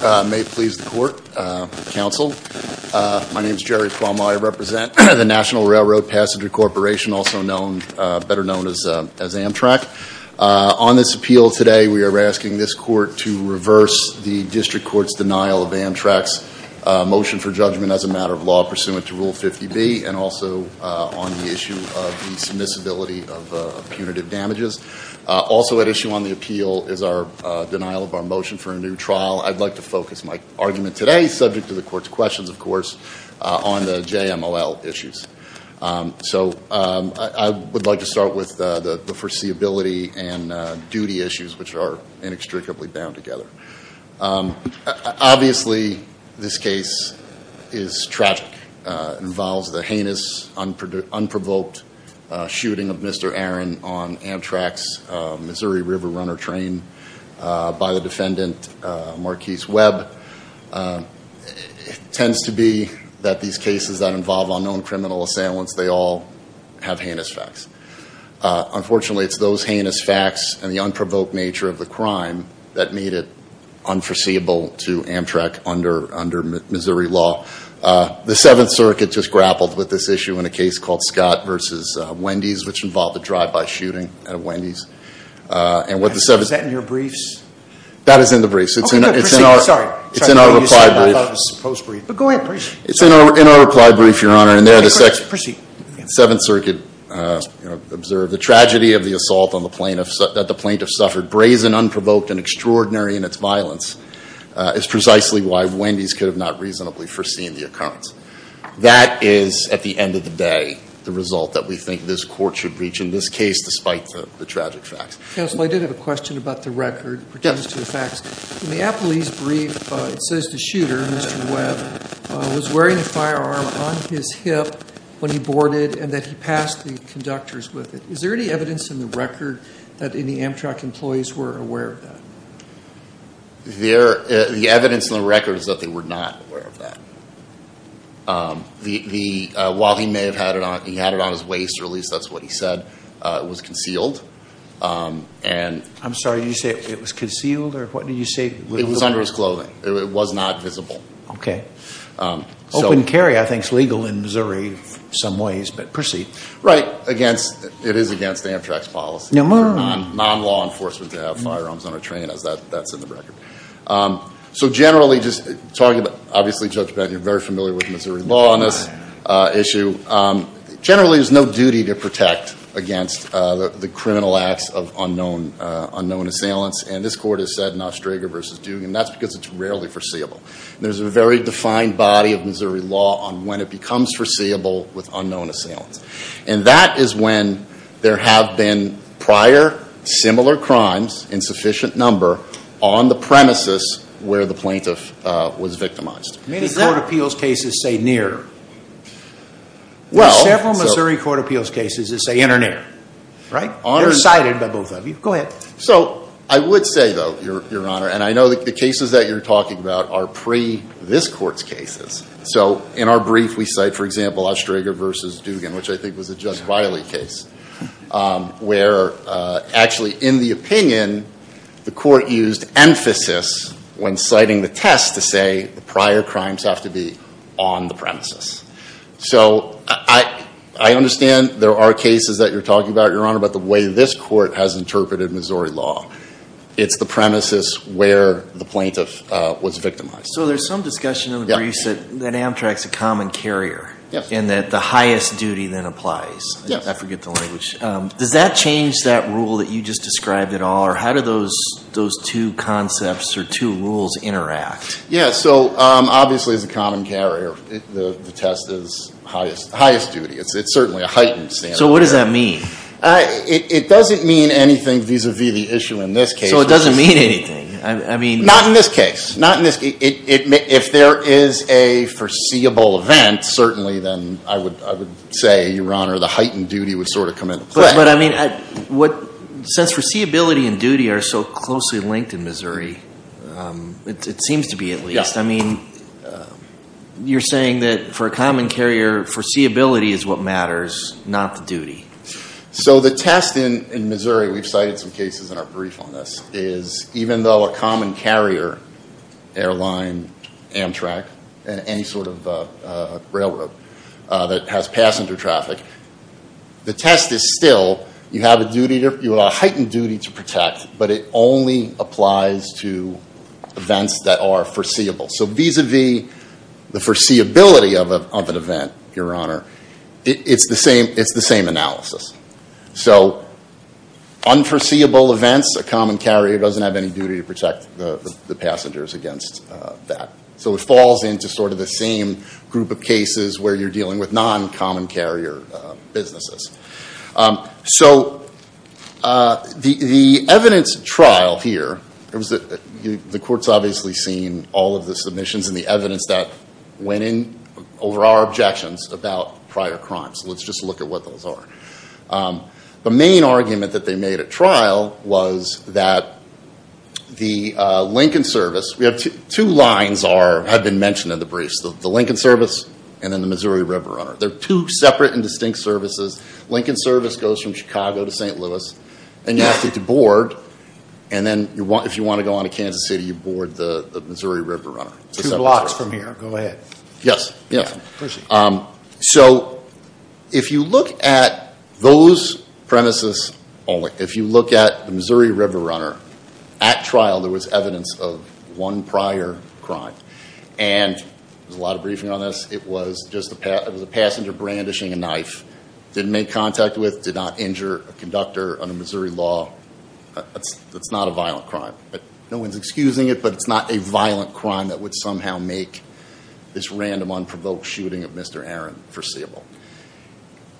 May it please the court, counsel. My name is Jerry Cuomo. I represent the National Railroad Passenger Corporation, also better known as Amtrak. On this appeal today, we are asking this court to reverse the district court's denial of Amtrak's motion for judgment as a matter of law pursuant to Rule 50B and also on the issue of the submissibility of punitive damages. Also at issue on the appeal is our denial of our motion for a new trial. I'd like to focus my argument today, subject to the court's questions of course, on the JMLL issues. So I would like to start with the foreseeability and duty issues which are inextricably bound together. Obviously, this case is tragic, involves the heinous, unprovoked shooting of Mr. Aaron on Amtrak's Missouri River on a runner train by the defendant Marquise Webb. Tends to be that these cases that involve unknown criminal assailants, they all have heinous facts. Unfortunately, it's those heinous facts and the unprovoked nature of the crime that made it unforeseeable to Amtrak under Missouri law. The Seventh Circuit just grappled with this issue in a case called Scott versus Wendy's, which involved a drive-by shooting at Wendy's. And what the Seventh- Is that in your briefs? That is in the briefs. It's in our- Okay, good. Proceed. Sorry. It's in our reply brief. I thought it was a post-brief. But go ahead. Proceed. It's in our reply brief, Your Honor. And there the Seventh Circuit observed the tragedy of the assault that the plaintiff suffered, brazen, unprovoked, and extraordinary in its violence, is precisely why Wendy's could have not reasonably foreseen the occurrence. That is, at the end of the day, the result that we think this court should reach in this case, despite the tragic facts. Counsel, I did have a question about the record, pertains to the facts. In the appellee's brief, it says the shooter, Mr. Webb, was wearing a firearm on his hip when he boarded, and that he passed the conductors with it. Is there any evidence in the record that any Amtrak employees were aware of that? There, the evidence in the record is that they were not aware of that. The, while he may have had it on, he had it on his waist, or at least that's what he said, it was concealed. And- I'm sorry, did you say it was concealed, or what did you say? It was under his clothing. It was not visible. Okay. Open carry, I think, is legal in Missouri in some ways, but proceed. Right, against, it is against Amtrak's policy for non-law enforcement to have firearms on a train, that's in the record. So generally, just talking about, obviously, Judge Benton, you're very familiar with Missouri law on this issue. Generally, there's no duty to protect against the criminal acts of unknown assailants. And this court has said, Nostraga versus Dugan, that's because it's rarely foreseeable. There's a very defined body of Missouri law on when it becomes foreseeable with unknown assailants. And that is when there have been prior similar crimes, in sufficient number, on the premises where the plaintiff was victimized. Many court appeals cases say near. Well- There's several Missouri court appeals cases that say in or near. Right? They're cited by both of you. Go ahead. So, I would say though, your honor, and I know that the cases that you're talking about are pre this court's cases. So, in our brief, we cite, for example, Nostraga versus Dugan, which I think was a Judge Wiley case. Where actually, in the opinion, the court used emphasis when citing the test to say the prior crimes have to be on the premises. So, I understand there are cases that you're talking about, your honor, but the way this court has interpreted Missouri law. It's the premises where the plaintiff was victimized. So, there's some discussion in the briefs that Amtrak's a common carrier. Yes. And that the highest duty then applies. Yes. I forget the language. Does that change that rule that you just described at all, or how do those two concepts or two rules interact? Yeah, so obviously, as a common carrier, the test is highest duty. It's certainly a heightened standard. So, what does that mean? It doesn't mean anything vis-a-vis the issue in this case. So, it doesn't mean anything? I mean- Not in this case. Not in this case. If there is a foreseeable event, certainly, then I would say, your honor, the heightened duty would sort of come into play. But, I mean, since foreseeability and duty are so closely linked in Missouri, it seems to be at least. I mean, you're saying that for a common carrier, foreseeability is what matters, not the duty. So, the test in Missouri, we've cited some cases in our brief on this, is even though a common carrier, airline, Amtrak, and any sort of railroad that has passenger traffic, the test is still, you have a heightened duty to protect, but it only applies to events that are foreseeable. So, vis-a-vis the foreseeability of an event, your honor, it's the same analysis. So, unforeseeable events, a common carrier doesn't have any duty to protect the passengers against that. So, it falls into sort of the same group of cases where you're dealing with non-common carrier businesses. So, the evidence trial here, the court's obviously seen all of the submissions and the evidence that went in over our objections about prior crimes. So, let's just look at what those are. The main argument that they made at trial was that the Lincoln service, we have two lines that have been mentioned in the briefs, the Lincoln service and then the Missouri River runner. They're two separate and distinct services. Lincoln service goes from Chicago to St. Louis. And you have to board, and then if you want to go on to Kansas City, you board the Missouri River runner. Two blocks from here, go ahead. Yes, yeah. So, if you look at those premises only, if you look at the Missouri River runner, at trial there was evidence of one prior crime. And there's a lot of briefing on this. It was just a passenger brandishing a knife. Didn't make contact with, did not injure a conductor under Missouri law. That's not a violent crime. No one's excusing it, but it's not a violent crime that would somehow make this random, unprovoked shooting of Mr. Aaron foreseeable.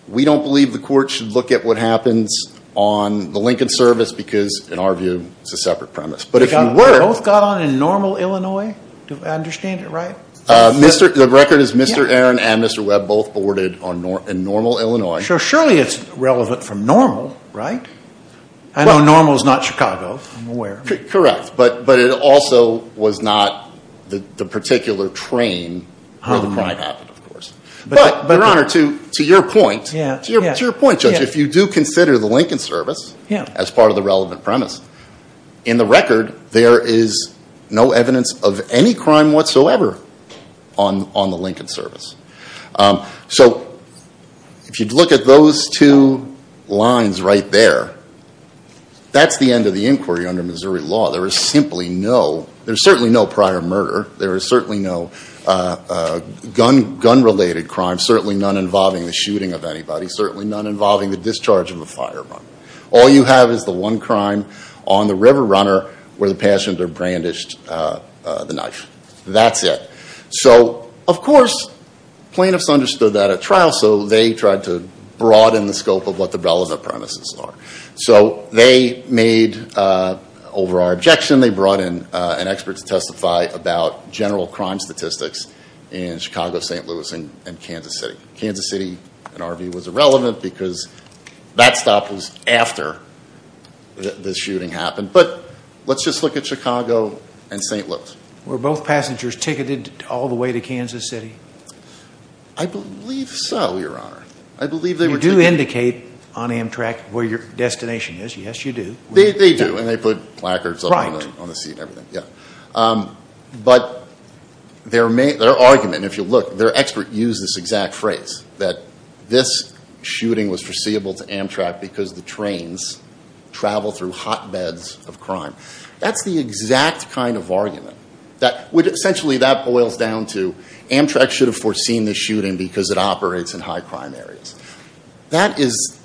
We don't believe the court should look at what happens on the Lincoln service because, in our view, it's a separate premise. But if you were- Both got on in normal Illinois? Do I understand it right? The record is Mr. Aaron and Mr. Webb both boarded in normal Illinois. So, surely it's relevant from normal, right? I know normal's not Chicago, I'm aware. Correct, but it also was not the particular train where the crime happened, of course. But, Your Honor, to your point, to your point, Judge, if you do consider the Lincoln service as part of the relevant premise, in the record, there is no evidence of any crime whatsoever on the Lincoln service. So, if you'd look at those two lines right there, that's the end of the inquiry under Missouri law. There is simply no, there's certainly no prior murder. There is certainly no gun-related crime. Certainly none involving the shooting of anybody. Certainly none involving the discharge of a firearm. All you have is the one crime on the River Runner where the passenger brandished the knife. That's it. So, of course, plaintiffs understood that at trial, so they tried to broaden the scope of what the relevant premises are. So, they made, over our objection, they brought in an expert to testify about general crime statistics in Chicago, St. Louis, and Kansas City. Kansas City, an RV was irrelevant because that stop was after the shooting happened. But, let's just look at Chicago and St. Louis. Were both passengers ticketed all the way to Kansas City? I believe so, Your Honor. I believe they were. You do indicate on Amtrak where your destination is. Yes, you do. They do, and they put placards on the seat and everything. Yeah. But their argument, if you look, their expert used this exact phrase, that this shooting was foreseeable to Amtrak because the trains travel through hotbeds of crime. That's the exact kind of argument that, which essentially that boils down to, Amtrak should have foreseen this shooting because it operates in high crime areas. That is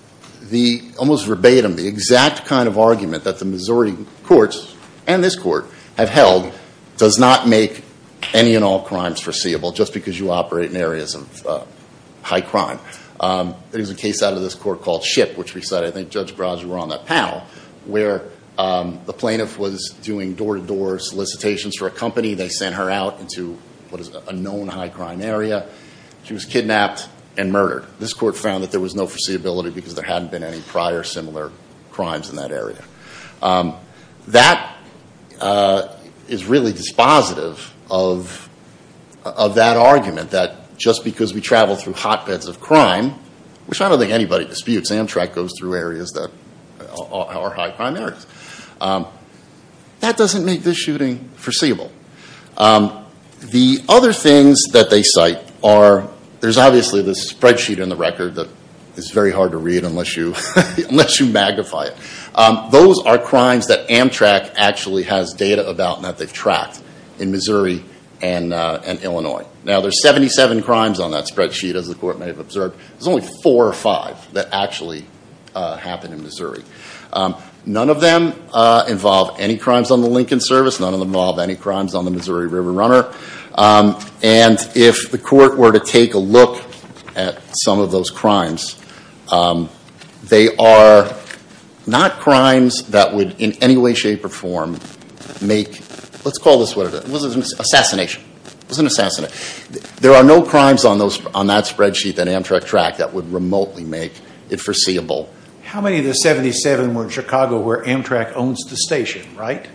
the, almost verbatim, the exact kind of argument that the Missouri courts, and this court, have held does not make any and all crimes foreseeable just because you operate in areas of high crime. There is a case out of this court called Ship, which we said, I think Judge Brodger were on that panel, where the plaintiff was doing door-to-door solicitations for a company. They sent her out into, what is it, a known high crime area. She was kidnapped and murdered. This court found that there was no foreseeability because there hadn't been any prior similar crimes in that area. That is really dispositive of that argument, that just because we travel through hotbeds of crime, which I don't think anybody disputes, Amtrak goes through areas that are high crime areas, that doesn't make this shooting foreseeable. The other things that they cite are, there's obviously this spreadsheet in the record that is very hard to read unless you magnify it. Those are crimes that Amtrak actually has data about and that they've tracked in Missouri and Illinois. Now, there's 77 crimes on that spreadsheet, as the court may have observed. There's only four or five that actually happen in Missouri. None of them involve any crimes on the Lincoln service. None of them involve any crimes on the Missouri River Runner. And if the court were to take a look at some of those crimes, they are not crimes that would in any way, shape, or form make, let's call this what it is, assassination, it was an assassination. There are no crimes on that spreadsheet that Amtrak tracked that would remotely make it foreseeable. How many of the 77 were in Chicago where Amtrak owns the station, right?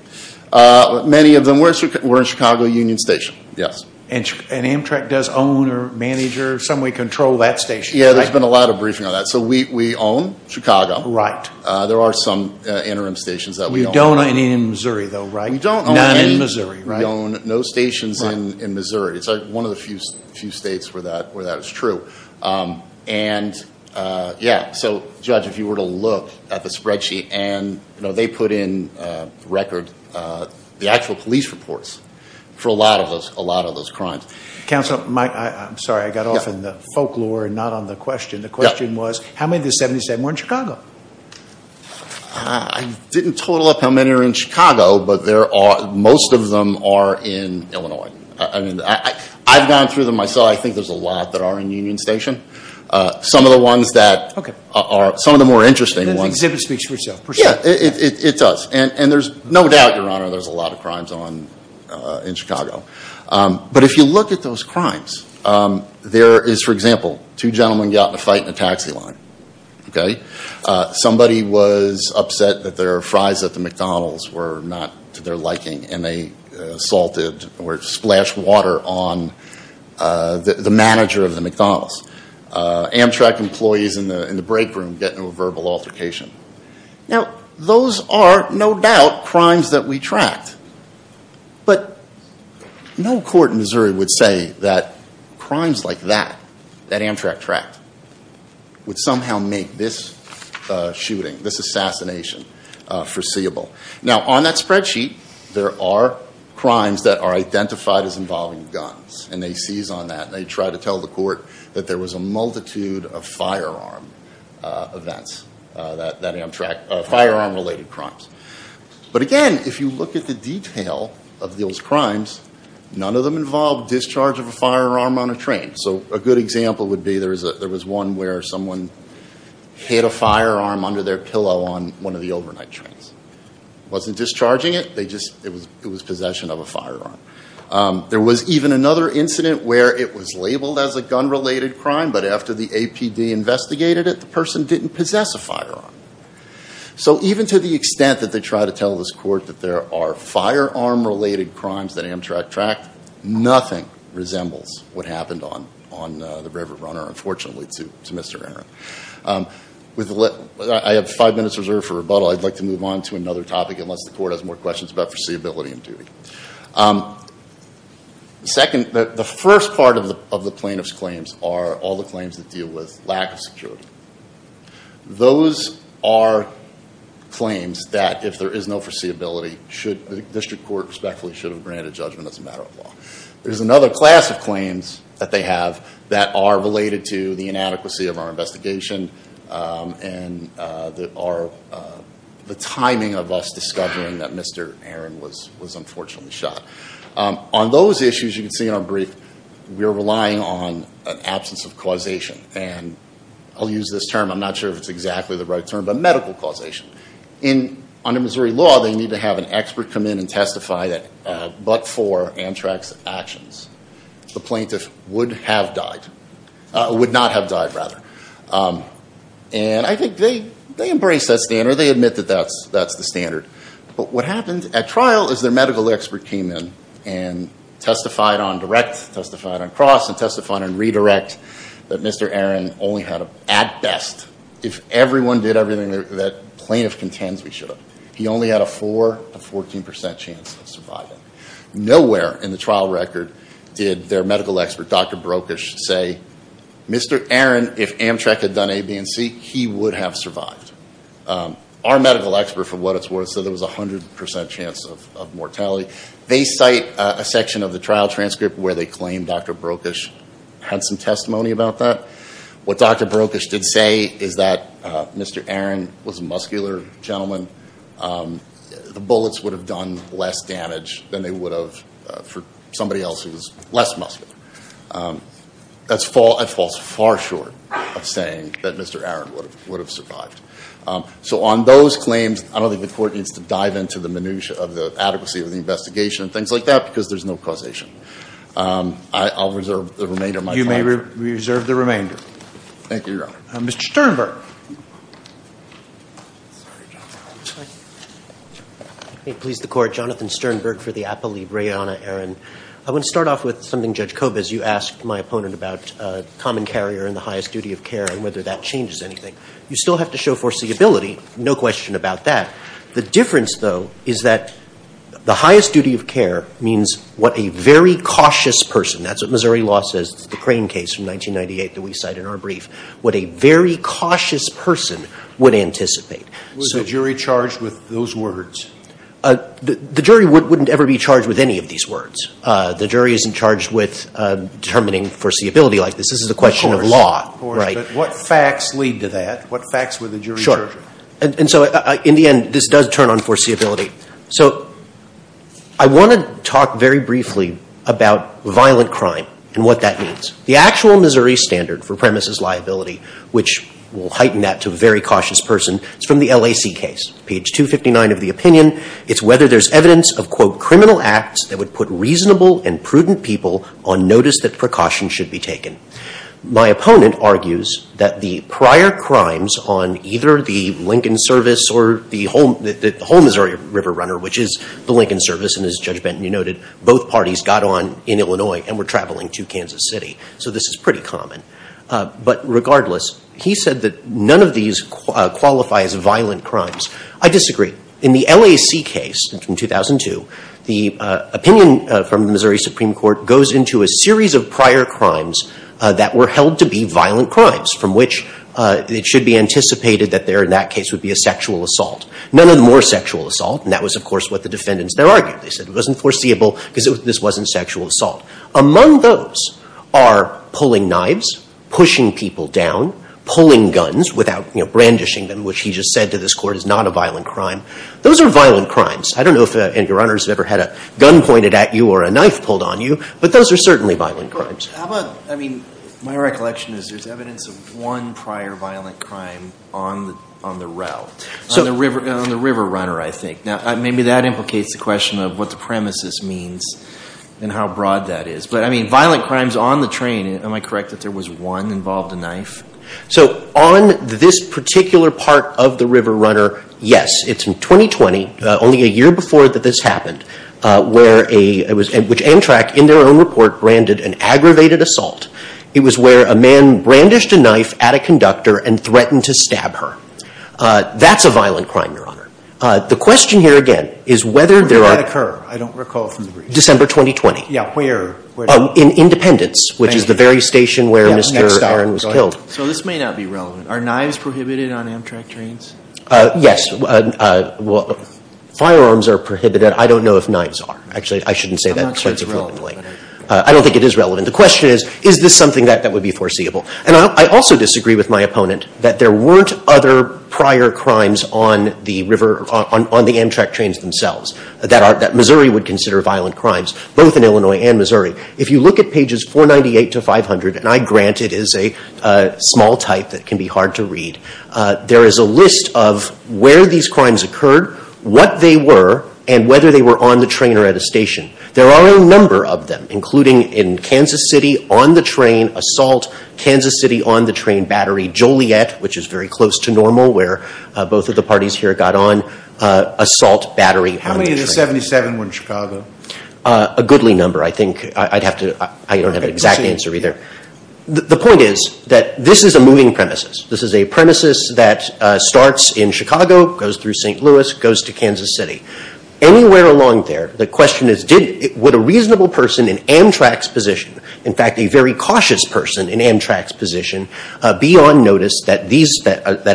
Many of them were in Chicago Union Station, yes. And Amtrak does own or manage or some way control that station, right? Yeah, there's been a lot of briefing on that. So we own Chicago. Right. There are some interim stations that we own. We don't own any in Missouri though, right? We don't own any. None in Missouri, right? We own no stations in Missouri. It's one of the few states where that is true. And yeah, so judge, if you were to look at the spreadsheet and, you know, they put in record the actual police reports for a lot of those crimes. Counselor, I'm sorry, I got off in the folklore and not on the question. The question was, how many of the 77 were in Chicago? I didn't total up how many are in Chicago, but most of them are in Illinois. I mean, I've gone through them myself. I think there's a lot that are in Union Station. Some of the ones that are, some of the more interesting ones. And the exhibit speaks for itself, for sure. Yeah, it does. And there's no doubt, your honor, there's a lot of crimes in Chicago. But if you look at those crimes, there is, for example, two gentlemen got in a fight in a taxi line, okay? Somebody was upset that their fries at the McDonald's were not to their liking. And they assaulted or splashed water on the manager of the McDonald's. Amtrak employees in the break room get into a verbal altercation. Now, those are, no doubt, crimes that we tracked. But no court in Missouri would say that crimes like that, that Amtrak tracked, would somehow make this shooting, this assassination, foreseeable. Now, on that spreadsheet, there are crimes that are identified as involving guns. And they seize on that, and they try to tell the court that there was a multitude of firearm events, that Amtrak, firearm-related crimes. But again, if you look at the detail of those crimes, none of them involved discharge of a firearm on a train. So a good example would be, there was one where someone hid a firearm under their pillow on one of the overnight trains. Wasn't discharging it, it was possession of a firearm. There was even another incident where it was labeled as a gun-related crime, but after the APD investigated it, the person didn't possess a firearm. So even to the extent that they try to tell this court that there are firearm-related crimes that Amtrak tracked, nothing resembles what happened on the River Runner, unfortunately, to Mr. Aaron. I have five minutes reserved for rebuttal. I'd like to move on to another topic, unless the court has more questions about foreseeability and duty. Second, the first part of the plaintiff's claims are all the claims that deal with lack of security. Those are claims that, if there is no foreseeability, the district court respectfully should have granted judgment as a matter of law. There's another class of claims that they have that are related to the inadequacy of our investigation and the timing of us discovering that Mr. Aaron was unfortunately shot. On those issues, you can see in our brief, we're relying on an absence of causation. And I'll use this term, I'm not sure if it's exactly the right term, but medical causation. Under Missouri law, they need to have an expert come in and testify that, but for Amtrak's actions, the plaintiff would have died. Would not have died, rather. And I think they embrace that standard. They admit that that's the standard. But what happened at trial is their medical expert came in and testified on direct, testified on cross, and testified on redirect, that Mr. Aaron only had, at best, if everyone did everything that plaintiff contends we should have. He only had a four to 14% chance of surviving. Nowhere in the trial record did their medical expert, Dr. Brokish, say, Mr. Aaron, if Amtrak had done A, B, and C, he would have survived. Our medical expert, for what it's worth, said there was a 100% chance of mortality. They cite a section of the trial transcript where they claim Dr. Brokish had some testimony about that. What Dr. Brokish did say is that Mr. Aaron was a muscular gentleman. The bullets would have done less damage than they would have for somebody else who's less muscular. That falls far short of saying that Mr. Aaron would have survived. So on those claims, I don't think the court needs to dive into the minutia of the adequacy of the investigation and things like that because there's no causation. I'll reserve the remainder of my time. I reserve the remainder. Thank you, Your Honor. Mr. Sternberg. May it please the court, Jonathan Sternberg for the Appellee, Rayanna Aaron. I want to start off with something Judge Kobes, you asked my opponent about common carrier and the highest duty of care and whether that changes anything. You still have to show foreseeability, no question about that. The difference, though, is that the highest duty of care means what a very cautious person, that's what Missouri law says, the Crane case from 1998 that we cite in our brief, what a very cautious person would anticipate. Was the jury charged with those words? The jury wouldn't ever be charged with any of these words. The jury isn't charged with determining foreseeability like this. This is a question of law. Of course, but what facts lead to that? What facts were the jury charged with? And so in the end, this does turn on foreseeability. So I want to talk very briefly about violent crime and what that means. The actual Missouri standard for premises liability, which will heighten that to a very cautious person, is from the LAC case. Page 259 of the opinion, it's whether there's evidence of, quote, criminal acts that would put reasonable and prudent people on notice that precautions should be taken. My opponent argues that the prior crimes on either the Lincoln service or the whole Missouri River Runner, which is the Lincoln service, and as Judge Benton, you noted, both parties got on in Illinois and were traveling to Kansas City. So this is pretty common. But regardless, he said that none of these qualify as violent crimes. I disagree. In the LAC case from 2002, the opinion from the Missouri Supreme Court goes into a series of prior crimes that were held to be violent crimes, from which it should be anticipated that there, in that case, would be a sexual assault. None of the more sexual assault, and that was, of course, what the defendants there argued. They said it wasn't foreseeable because this wasn't sexual assault. Among those are pulling knives, pushing people down, pulling guns without, you know, brandishing them, which he just said to this Court is not a violent crime. Those are violent crimes. I don't know if any runners have ever had a gun pointed at you or a knife pulled on you, but those are certainly violent crimes. How about, I mean, my recollection is there's evidence of one prior violent crime on the route, on the River Runner, I think. Now, maybe that implicates the question of what the premises means and how broad that is. But, I mean, violent crimes on the train, am I correct that there was one involved a knife? So on this particular part of the River Runner, yes. It's in 2020, only a year before that this happened, where a, which Amtrak, in their own report, branded an aggravated assault. It was where a man brandished a knife at a conductor and threatened to stab her. That's a violent crime, Your Honor. The question here, again, is whether there are. Where did that occur? I don't recall from the brief. December 2020. Yeah, where? Oh, in Independence, which is the very station where Mr. Starran was killed. So this may not be relevant. Are knives prohibited on Amtrak trains? Yes, firearms are prohibited. I don't know if knives are. Actually, I shouldn't say that. I'm not sure it's relevant. I don't think it is relevant. The question is, is this something that would be foreseeable? And I also disagree with my opponent that there weren't other prior crimes on the river, on the Amtrak trains themselves that Missouri would consider violent crimes, both in Illinois and Missouri. If you look at pages 498 to 500, and I grant it is a small type that can be hard to read, there is a list of where these crimes occurred, what they were, and whether they were on the train or at a station. There are a number of them, including in Kansas City, on the train, assault, Kansas City, on the train, battery, Joliet, which is very close to normal, where both of the parties here got on, assault, battery. How many of the 77 were in Chicago? A goodly number, I think. I don't have an exact answer either. The point is that this is a moving premises. This is a premises that starts in Chicago, goes through St. Louis, goes to Kansas City. Anywhere along there, the question is would a reasonable person in Amtrak's position, in fact a very cautious person in Amtrak's position, be on notice that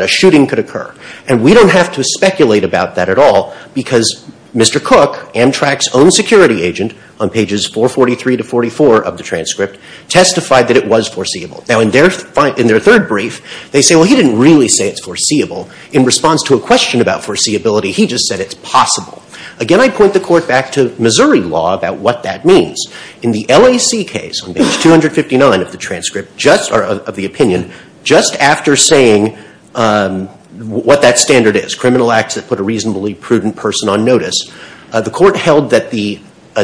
a shooting could occur? And we don't have to speculate about that at all because Mr. Cook, Amtrak's own security agent on pages 443 to 44 of the transcript, testified that it was foreseeable. Now in their third brief, they say, well, he didn't really say it's foreseeable. In response to a question about foreseeability, he just said it's possible. Again, I point the court back to Missouri law about what that means. In the LAC case on page 259 of the transcript, just, of the opinion, just after saying what that standard is, criminal acts that put a reasonably prudent person on notice, the court held that the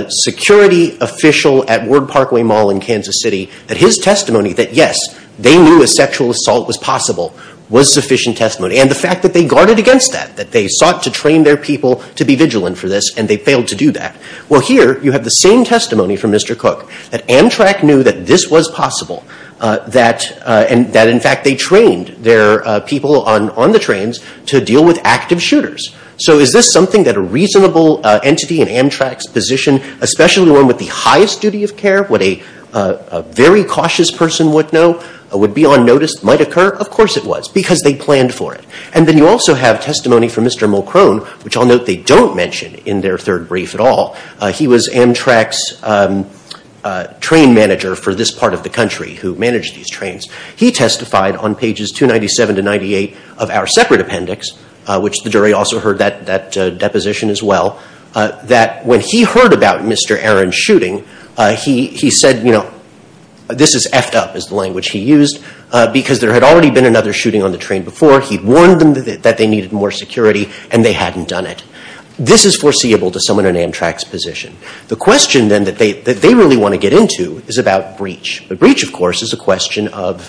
security official at Ward Parkway Mall in Kansas City, that his testimony, that yes, they knew a sexual assault was possible, was sufficient testimony. And the fact that they guarded against that, that they sought to train their people to be vigilant for this, and they failed to do that. Well, here you have the same testimony from Mr. Cook, that Amtrak knew that this was possible, that in fact they trained their people on the trains to deal with active shooters. So is this something that a reasonable entity in Amtrak's position, especially one with the highest duty of care, what a very cautious person would know, would be on notice, might occur? Of course it was, because they planned for it. And then you also have testimony from Mr. Mulcrone, which I'll note they don't mention in their third brief at all. He was Amtrak's train manager for this part of the country, who managed these trains. He testified on pages 297 to 98 of our separate appendix, which the jury also heard that deposition as well, that when he heard about Mr. Aaron's shooting, he said, you know, this is effed up is the language he used, because there had already been another shooting on the train before. He'd warned them that they needed more security, and they hadn't done it. This is foreseeable to someone in Amtrak's position. The question then that they really want to get into is about breach. But breach, of course, is a question of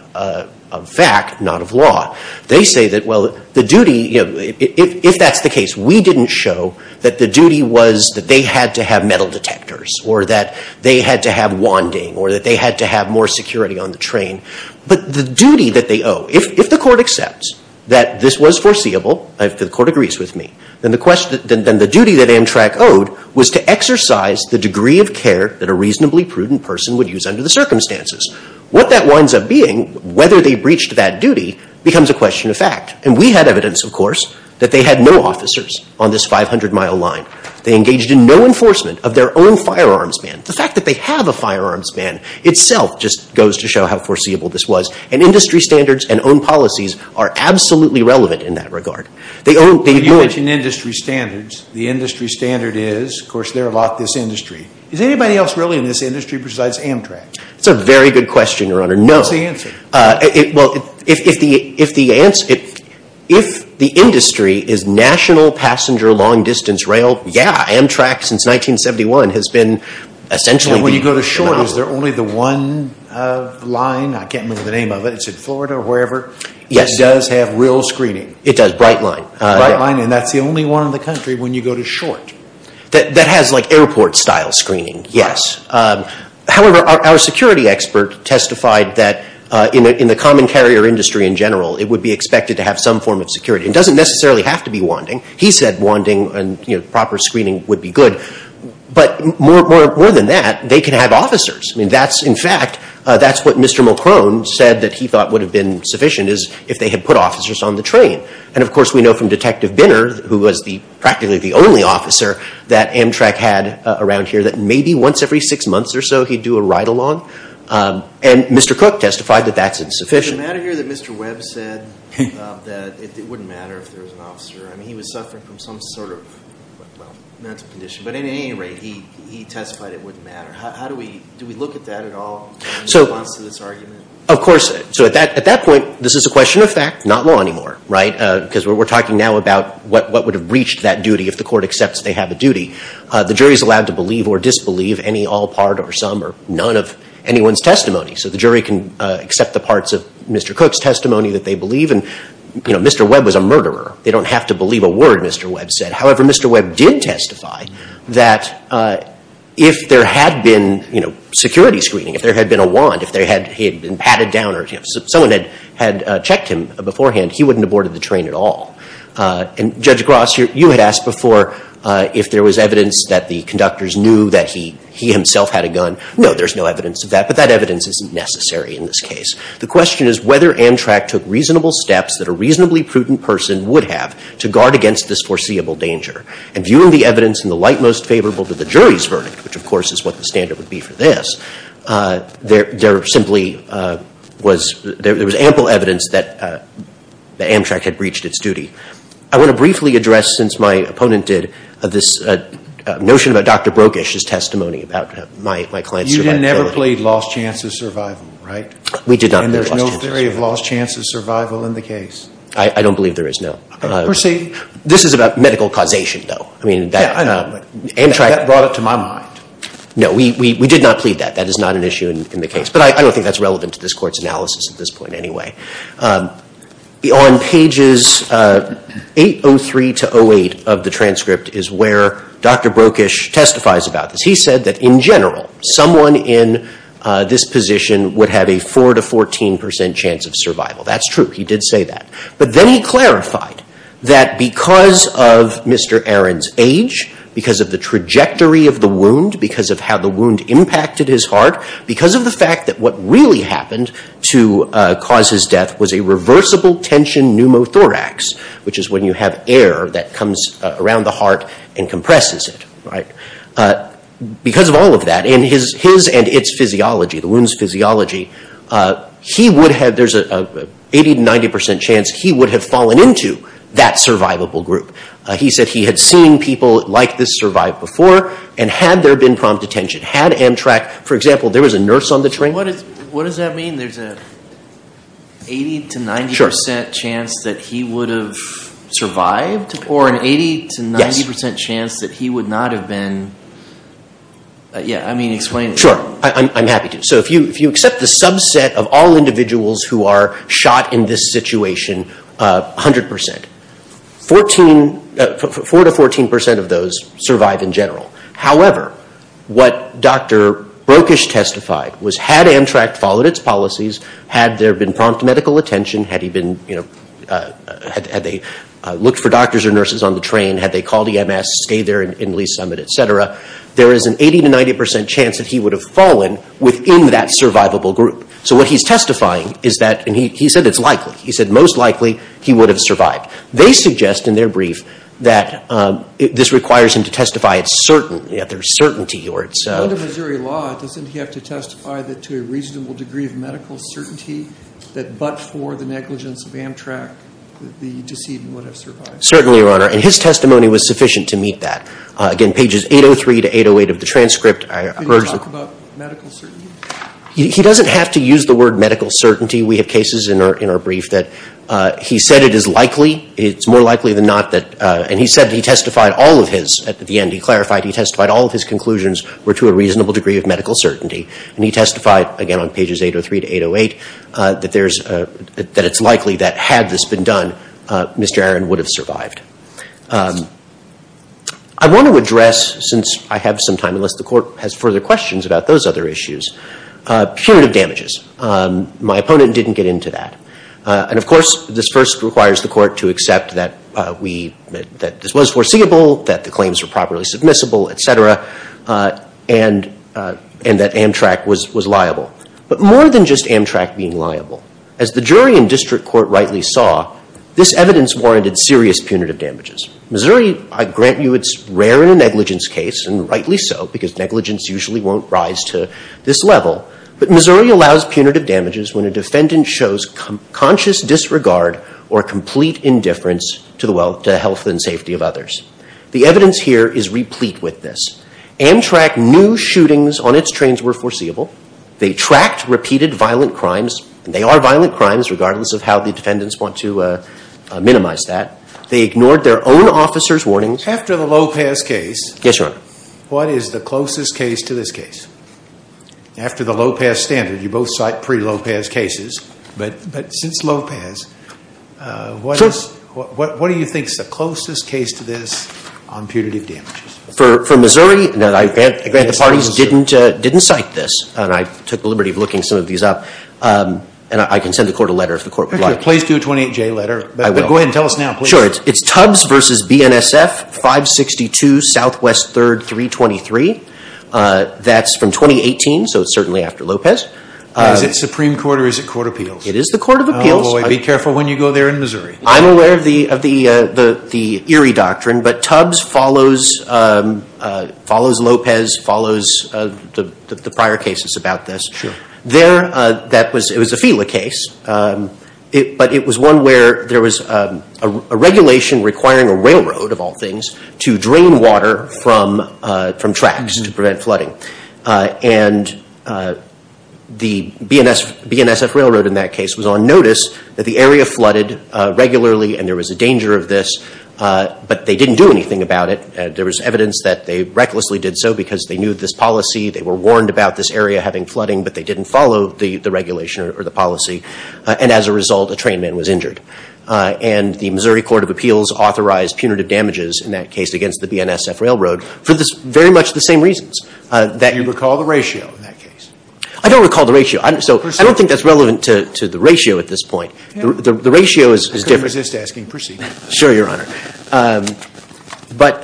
fact, not of law. They say that, well, the duty, you know, if that's the case, we didn't show that the duty was that they had to have metal detectors, or that they had to have wanding, or that they had to have more security on the train. But the duty that they owe, if the court accepts that this was foreseeable, if the court agrees with me, then the duty that Amtrak owed was to exercise the degree of care that a reasonably prudent person would use under the circumstances. What that winds up being, whether they breached that duty, becomes a question of fact. And we had evidence, of course, that they had no officers on this 500-mile line. They engaged in no enforcement of their own firearms ban. The fact that they have a firearms ban itself just goes to show how foreseeable this was. And industry standards and own policies are absolutely relevant in that regard. They own, they've known. You mentioned industry standards. The industry standard is, of course, they're a lot this industry. Is anybody else really in this industry besides Amtrak? That's a very good question, Your Honor. No. What's the answer? Well, if the answer, if the industry is national passenger long-distance rail, yeah, Amtrak, since 1971, has been essentially the monopoly. When you go to short, is there only the one line? I can't remember the name of it. It's in Florida or wherever. Yes. It does have real screening. It does, Brightline. Brightline, and that's the only one in the country when you go to short. That has, like, airport-style screening, yes. However, our security expert testified that in the common carrier industry in general, it would be expected to have some form of security. It doesn't necessarily have to be wanding. He said wanding and, you know, proper screening would be good. But more than that, they can have officers. I mean, that's, in fact, that's what Mr. Mulcrone said that he thought would have been sufficient, is if they had put officers on the train. And, of course, we know from Detective Binner, who was the, practically the only officer that Amtrak had around here, that maybe once every six months or so, he'd do a ride-along. And Mr. Cook testified that that's insufficient. Is it a matter here that Mr. Webb said that it wouldn't matter if there was an officer? I mean, he was suffering from some sort of, well, mental condition. But at any rate, he testified it wouldn't matter. How do we, do we look at that at all in response to this argument? Of course. So at that point, this is a question of fact, not law anymore, right? Because we're talking now about what would have reached that duty if the court accepts they have a duty. The jury is allowed to believe or disbelieve any all part or some or none of anyone's testimony. So the jury can accept the parts of Mr. Cook's testimony that they believe. And, you know, Mr. Webb was a murderer. They don't have to believe a word Mr. Webb said. However, Mr. Webb did testify that if there had been, you know, security screening, if there had been a wand, if he had been patted down or someone had checked him beforehand, he wouldn't have boarded the train at all. And Judge Gross, you had asked before if there was evidence that the conductors knew that he himself had a gun. No, there's no evidence of that. But that evidence isn't necessary in this case. The question is whether Amtrak took reasonable steps that a reasonably prudent person would have to guard against this foreseeable danger. And viewing the evidence in the light most favorable to the jury's verdict, which of course is what the standard would be for this, there simply was – there was ample evidence that Amtrak had breached its duty. I want to briefly address, since my opponent did, this notion about Dr. Brokish's testimony about my client's survivability. You didn't ever plead lost chance of survival, right? We did not plead lost chance of survival. I don't believe there is, no. This is about medical causation, though. I mean, Amtrak – That brought it to my mind. No, we did not plead that. That is not an issue in the case. But I don't think that's relevant to this Court's analysis at this point anyway. On pages 803 to 08 of the transcript is where Dr. Brokish testifies about this. He said that in general, someone in this position would have a 4 to 14 percent chance of survival. That's true. He did say that. But then he clarified that because of Mr. Aron's age, because of the trajectory of the wound, because of how the wound impacted his heart, because of the fact that what really happened to cause his death was a reversible tension pneumothorax, which is when you have air that comes around the heart and compresses it, right? Because of all of that, in his and its physiology, the wound's physiology, he would have – there's an 80 to 90 percent chance he would have fallen into that survivable group. He said he had seen people like this survive before, and had there been prompt detention, had Amtrak – for example, there was a nurse on the train. What does that mean? There's an 80 to 90 percent chance that he would have survived? Or an 80 to 90 percent chance that he would not have been – Yeah, I mean, explain it. Sure. I'm happy to. So if you accept the subset of all individuals who are shot in this situation, 100 percent. Four to 14 percent of those survive in general. However, what Dr. Brokish testified was had Amtrak followed its policies, had there been prompt medical attention, had he been – had they looked for doctors or nurses on the train, had they called EMS, stayed there in Lee's Summit, et cetera, there is an 80 to 90 percent chance that he would have fallen within that survivable group. So what he's testifying is that – and he said it's likely. He said most likely he would have survived. They suggest in their brief that this requires him to testify it's certain, that there's certainty or it's – Under Missouri law, doesn't he have to testify that to a reasonable degree of medical certainty that but for the negligence of Amtrak, the decedent would have survived? Certainly, Your Honor. And his testimony was sufficient to meet that. Again, pages 803 to 808 of the transcript, I urge – Can you talk about medical certainty? He doesn't have to use the word medical certainty. We have cases in our brief that he said it is likely. It's more likely than not that – and he said he testified all of his – at the end, he clarified, he testified all of his conclusions were to a reasonable degree of medical certainty. And he testified, again, on pages 803 to 808, that there's – that it's likely that had this been done, Mr. Aron would have survived. I want to address, since I have some time, unless the Court has further questions about those other issues, punitive damages. My opponent didn't get into that. And, of course, this first requires the Court to accept that we – that this was foreseeable, that the claims were properly submissible, et cetera, and that Amtrak was liable. But more than just Amtrak being liable, as the jury in district court rightly saw, this evidence warranted serious punitive damages. Missouri, I grant you, it's rare in a negligence case, and rightly so, because negligence usually won't rise to this level. But Missouri allows punitive damages when a defendant shows conscious disregard or complete indifference to the health and safety of others. The evidence here is replete with this. Amtrak knew shootings on its trains were foreseeable. They tracked repeated violent crimes, and they are violent crimes regardless of how the defendants want to minimize that. They ignored their own officers' warnings. After the Lopez case, what is the closest case to this case? After the Lopez standard, you both cite pre-Lopez cases, but since Lopez, what do you think is the closest case to this on punitive damages? For Missouri, I grant the parties didn't cite this, and I took the liberty of looking some of these up, and I can send the court a letter if the court would like. Please do a 28-J letter. I will. But go ahead and tell us now, please. Sure. It's Tubbs v. BNSF, 562 Southwest 3rd, 323. That's from 2018, so it's certainly after Lopez. Is it Supreme Court or is it Court of Appeals? It is the Court of Appeals. Oh, boy, be careful when you go there in Missouri. I'm aware of the Erie Doctrine, but Tubbs follows Lopez, follows the prior cases about this. It was a FILA case, but it was one where there was a regulation requiring a railroad, of all things, to drain water from tracks to prevent flooding. And the BNSF railroad in that case was on notice that the area flooded regularly and there was a danger of this, but they didn't do anything about it. There was evidence that they recklessly did so because they knew this policy. They were warned about this area having flooding, but they didn't follow the regulation or the policy. And as a result, a train man was injured. And the Missouri Court of Appeals authorized punitive damages in that case against the BNSF railroad for very much the same reasons. Do you recall the ratio in that case? I don't recall the ratio. So I don't think that's relevant to the ratio at this point. The ratio is different. I couldn't resist asking, proceed. Sure, Your Honor. But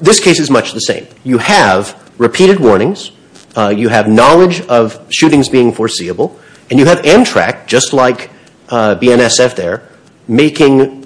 this case is much the same. You have repeated warnings. You have knowledge of shootings being foreseeable. And you have Amtrak, just like BNSF there, making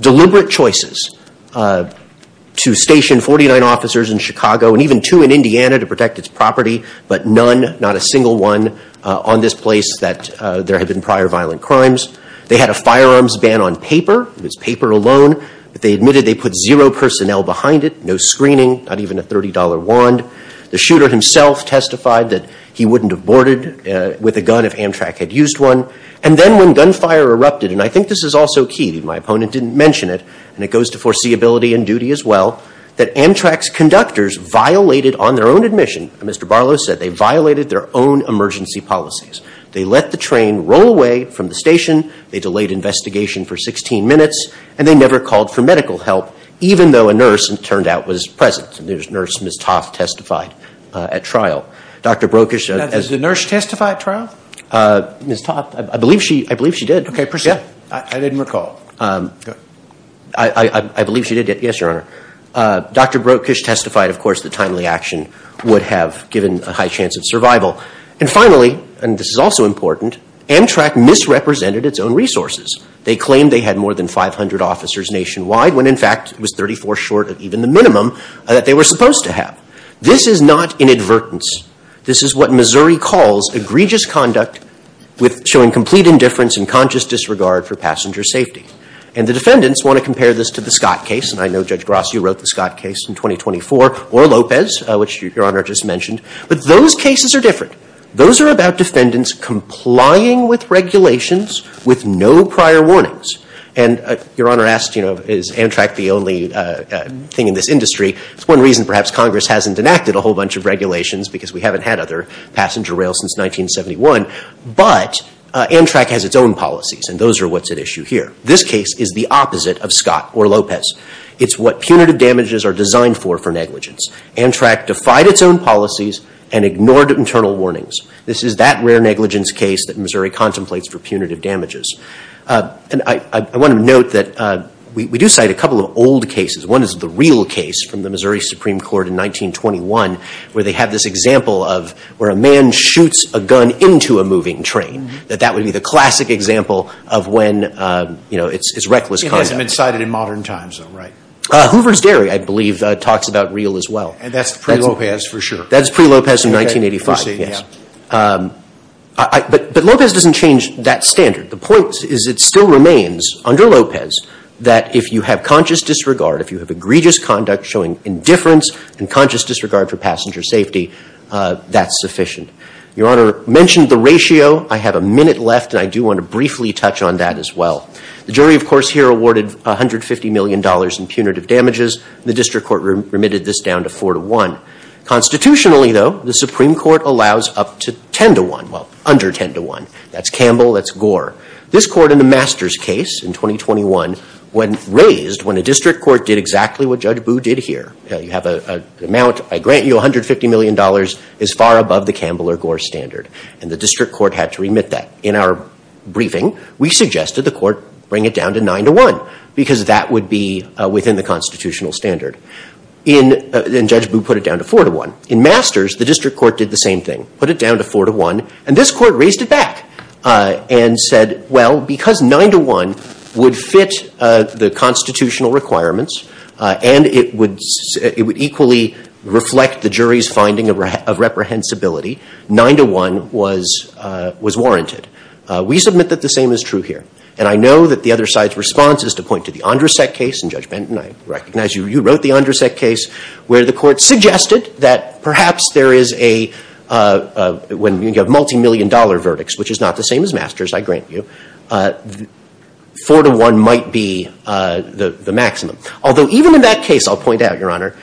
deliberate choices to station 49 officers in Chicago and even two in Indiana to protect its property, but none, not a single one, on this place that there had been prior violent crimes. They had a firearms ban on paper. It was paper alone. But they admitted they put zero personnel behind it, no screening, not even a $30 wand. The shooter himself testified that he wouldn't have boarded with a gun if Amtrak had used one. And then when gunfire erupted, and I think this is also key, my opponent didn't mention it, and it goes to foreseeability and duty as well, that Amtrak's conductors violated, on their own admission, as Mr. Barlow said, they violated their own emergency policies. They let the train roll away from the station. They delayed investigation for 16 minutes. And they never called for medical help, even though a nurse, it turned out, was present. There was a nurse, Ms. Toth, testified at trial. Dr. Brokish. Has the nurse testified at trial? Ms. Toth. I believe she did. Okay, proceed. I didn't recall. I believe she did. Yes, Your Honor. Dr. Brokish testified, of course, that timely action would have given a high chance of survival. And finally, and this is also important, Amtrak misrepresented its own resources. They claimed they had more than 500 officers nationwide, when in fact it was 34 short of even the minimum that they were supposed to have. This is not inadvertence. This is what Missouri calls egregious conduct showing complete indifference and conscious disregard for passenger safety. And the defendants want to compare this to the Scott case. And I know, Judge Gross, you wrote the Scott case in 2024, or Lopez, which Your Honor just mentioned. But those cases are different. Those are about defendants complying with regulations with no prior warnings. And Your Honor asked, you know, is Amtrak the only thing in this industry? It's one reason perhaps Congress hasn't enacted a whole bunch of regulations, because we haven't had other passenger rail since 1971. But Amtrak has its own policies, and those are what's at issue here. This case is the opposite of Scott or Lopez. It's what punitive damages are designed for for negligence. Amtrak defied its own policies and ignored internal warnings. This is that rare negligence case that Missouri contemplates for punitive damages. And I want to note that we do cite a couple of old cases. One is the real case from the Missouri Supreme Court in 1921, where they have this example of where a man shoots a gun into a moving train, that that would be the classic example of when, you know, it's reckless conduct. It hasn't been cited in modern times though, right? Hoover's Dairy, I believe, talks about real as well. And that's pre-Lopez for sure. That's pre-Lopez in 1985. But Lopez doesn't change that standard. The point is it still remains under Lopez that if you have conscious disregard, if you have egregious conduct showing indifference and conscious disregard for passenger safety, that's sufficient. Your Honor mentioned the ratio. I have a minute left, and I do want to briefly touch on that as well. The jury, of course, here awarded $150 million in punitive damages. The district court remitted this down to 4 to 1. Constitutionally, though, the Supreme Court allows up to 10 to 1. Well, under 10 to 1. That's Campbell. That's Gore. This court in the Masters case in 2021 raised when a district court did exactly what Judge Boo did here. You have an amount. I grant you $150 million is far above the Campbell or Gore standard. And the district court had to remit that. In our briefing, we suggested the court bring it down to 9 to 1 because that would be within the constitutional standard. And Judge Boo put it down to 4 to 1. In Masters, the district court did the same thing, put it down to 4 to 1. And this court raised it back and said, well, because 9 to 1 would fit the constitutional requirements and it would equally reflect the jury's finding of reprehensibility, 9 to 1 was warranted. We submit that the same is true here. And I know that the other side's response is to point to the Andrasek case in Judge Benton. I recognize you wrote the Andrasek case where the court suggested that perhaps there is a, when you have multimillion dollar verdicts, which is not the same as Masters, I grant you, 4 to 1 might be the maximum. Although even in that case, I'll point out, Your Honor,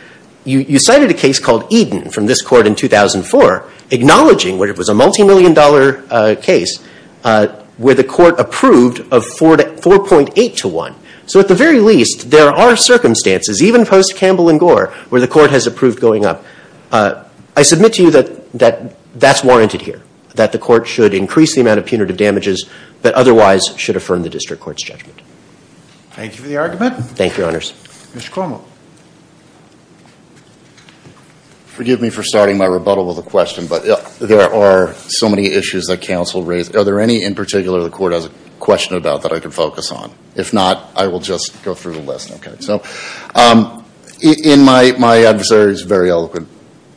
you cited a case called Eden from this court in 2004, acknowledging where it was a multimillion dollar case where the court approved of 4.8 to 1. So at the very least, there are circumstances, even post-Campbell and Gore, where the court has approved going up. I submit to you that that's warranted here, that the court should increase the amount of punitive damages that otherwise should affirm the district court's judgment. Thank you for the argument. Thank you, Your Honors. Mr. Cuomo. Forgive me for starting my rebuttal with a question, but there are so many issues that counsel raised. Are there any in particular the court has a question about that I can focus on? If not, I will just go through the list. So in my adversary's very eloquent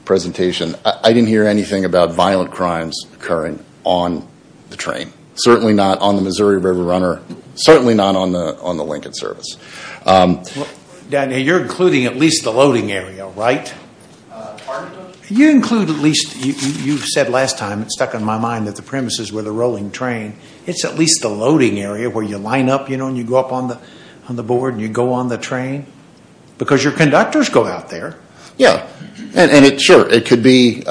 presentation, I didn't hear anything about violent crimes occurring on the train. Certainly not on the Missouri River Runner. Certainly not on the Lincoln service. Daniel, you're including at least the loading area, right? You include at least, you said last time, it stuck in my mind that the premises were the rolling train. It's at least the loading area where you line up, you know, and you go up on the board and you go on the train? Because your conductors go out there. Yeah. Sure. It could be,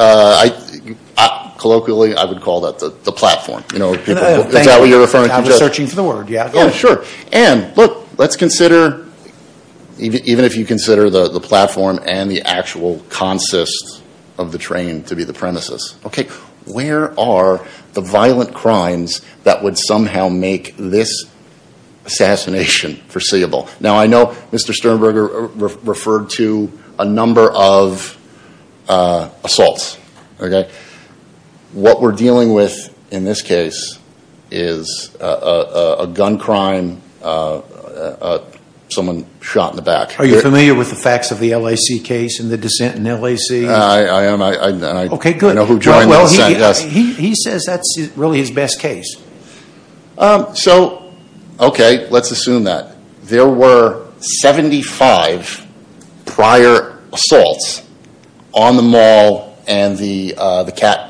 colloquially, I would call that the platform. Is that what you're referring to? I was searching for the word. Yeah, sure. And look, let's consider, even if you consider the platform and the actual consist of the train to be the premises. Okay. Where are the violent crimes that would somehow make this assassination foreseeable? Now, I know Mr. Sternberger referred to a number of assaults, okay? What we're dealing with in this case is a gun crime, someone shot in the back. Are you familiar with the facts of the LAC case and the dissent in LAC? I am. Okay, good. I know who joined the dissent. He says that's really his best case. So, okay, let's assume that. There were 75 prior assaults on the mall and the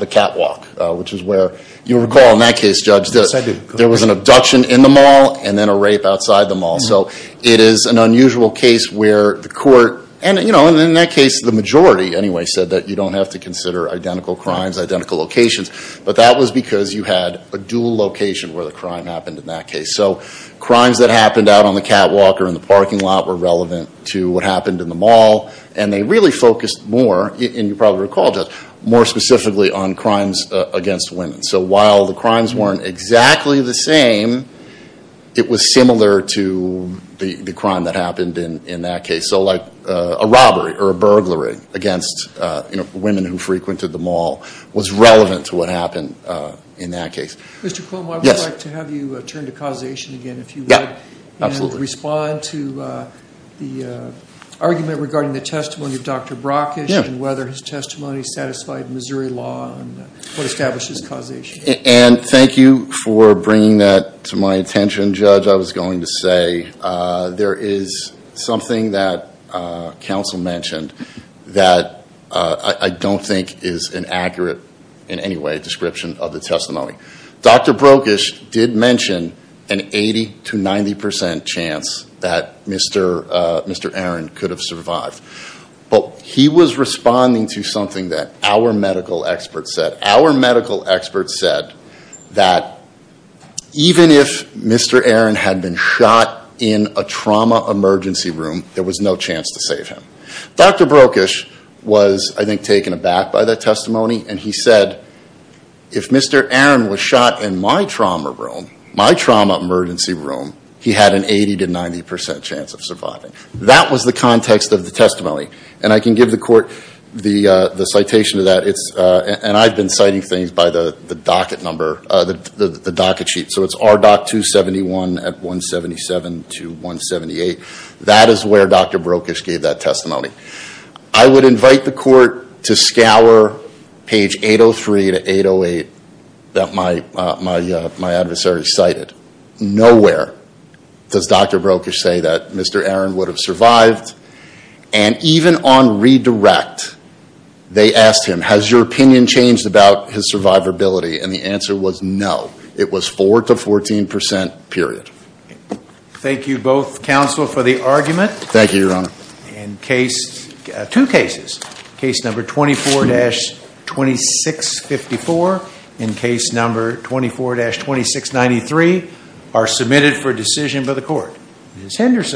catwalk, which is where you recall in that case, Judge, there was an abduction in the mall and then a rape outside the mall. So it is an unusual case where the court, and, you know, in that case, the majority, anyway, said that you don't have to consider identical crimes, identical locations. But that was because you had a dual location where the crime happened in that case. So crimes that happened out on the catwalk or in the parking lot were relevant to what happened in the mall. And they really focused more, and you probably recall, Judge, more specifically on crimes against women. So while the crimes weren't exactly the same, it was similar to the crime that happened in that case. So, like, a robbery or a burglary against, you know, women who frequented the mall was relevant to what happened in that case. Mr. Cuomo, I would like to have you turn to causation again if you would. Yeah, absolutely. And respond to the argument regarding the testimony of Dr. Brockish and whether his testimony satisfied Missouri law and what establishes causation. And thank you for bringing that to my attention, Judge. Judge, I was going to say there is something that counsel mentioned that I don't think is an accurate, in any way, description of the testimony. Dr. Brockish did mention an 80 to 90 percent chance that Mr. Aaron could have survived. But he was responding to something that our medical experts said. Our medical experts said that even if Mr. Aaron had been shot in a trauma emergency room, there was no chance to save him. Dr. Brockish was, I think, taken aback by that testimony. And he said, if Mr. Aaron was shot in my trauma room, my trauma emergency room, he had an 80 to 90 percent chance of surviving. That was the context of the testimony. And I can give the court the citation of that. And I've been citing things by the docket number, the docket sheet. So it's RDoC 271 at 177 to 178. That is where Dr. Brockish gave that testimony. I would invite the court to scour page 803 to 808 that my adversary cited. Nowhere does Dr. Brockish say that Mr. Aaron would have survived. And even on redirect, they asked him, has your opinion changed about his survivability? And the answer was no. It was 4 to 14 percent, period. Thank you both, counsel, for the argument. Thank you, Your Honor. Two cases, case number 24-2654 and case number 24-2693 are submitted for decision by the court. Ms. Henderson.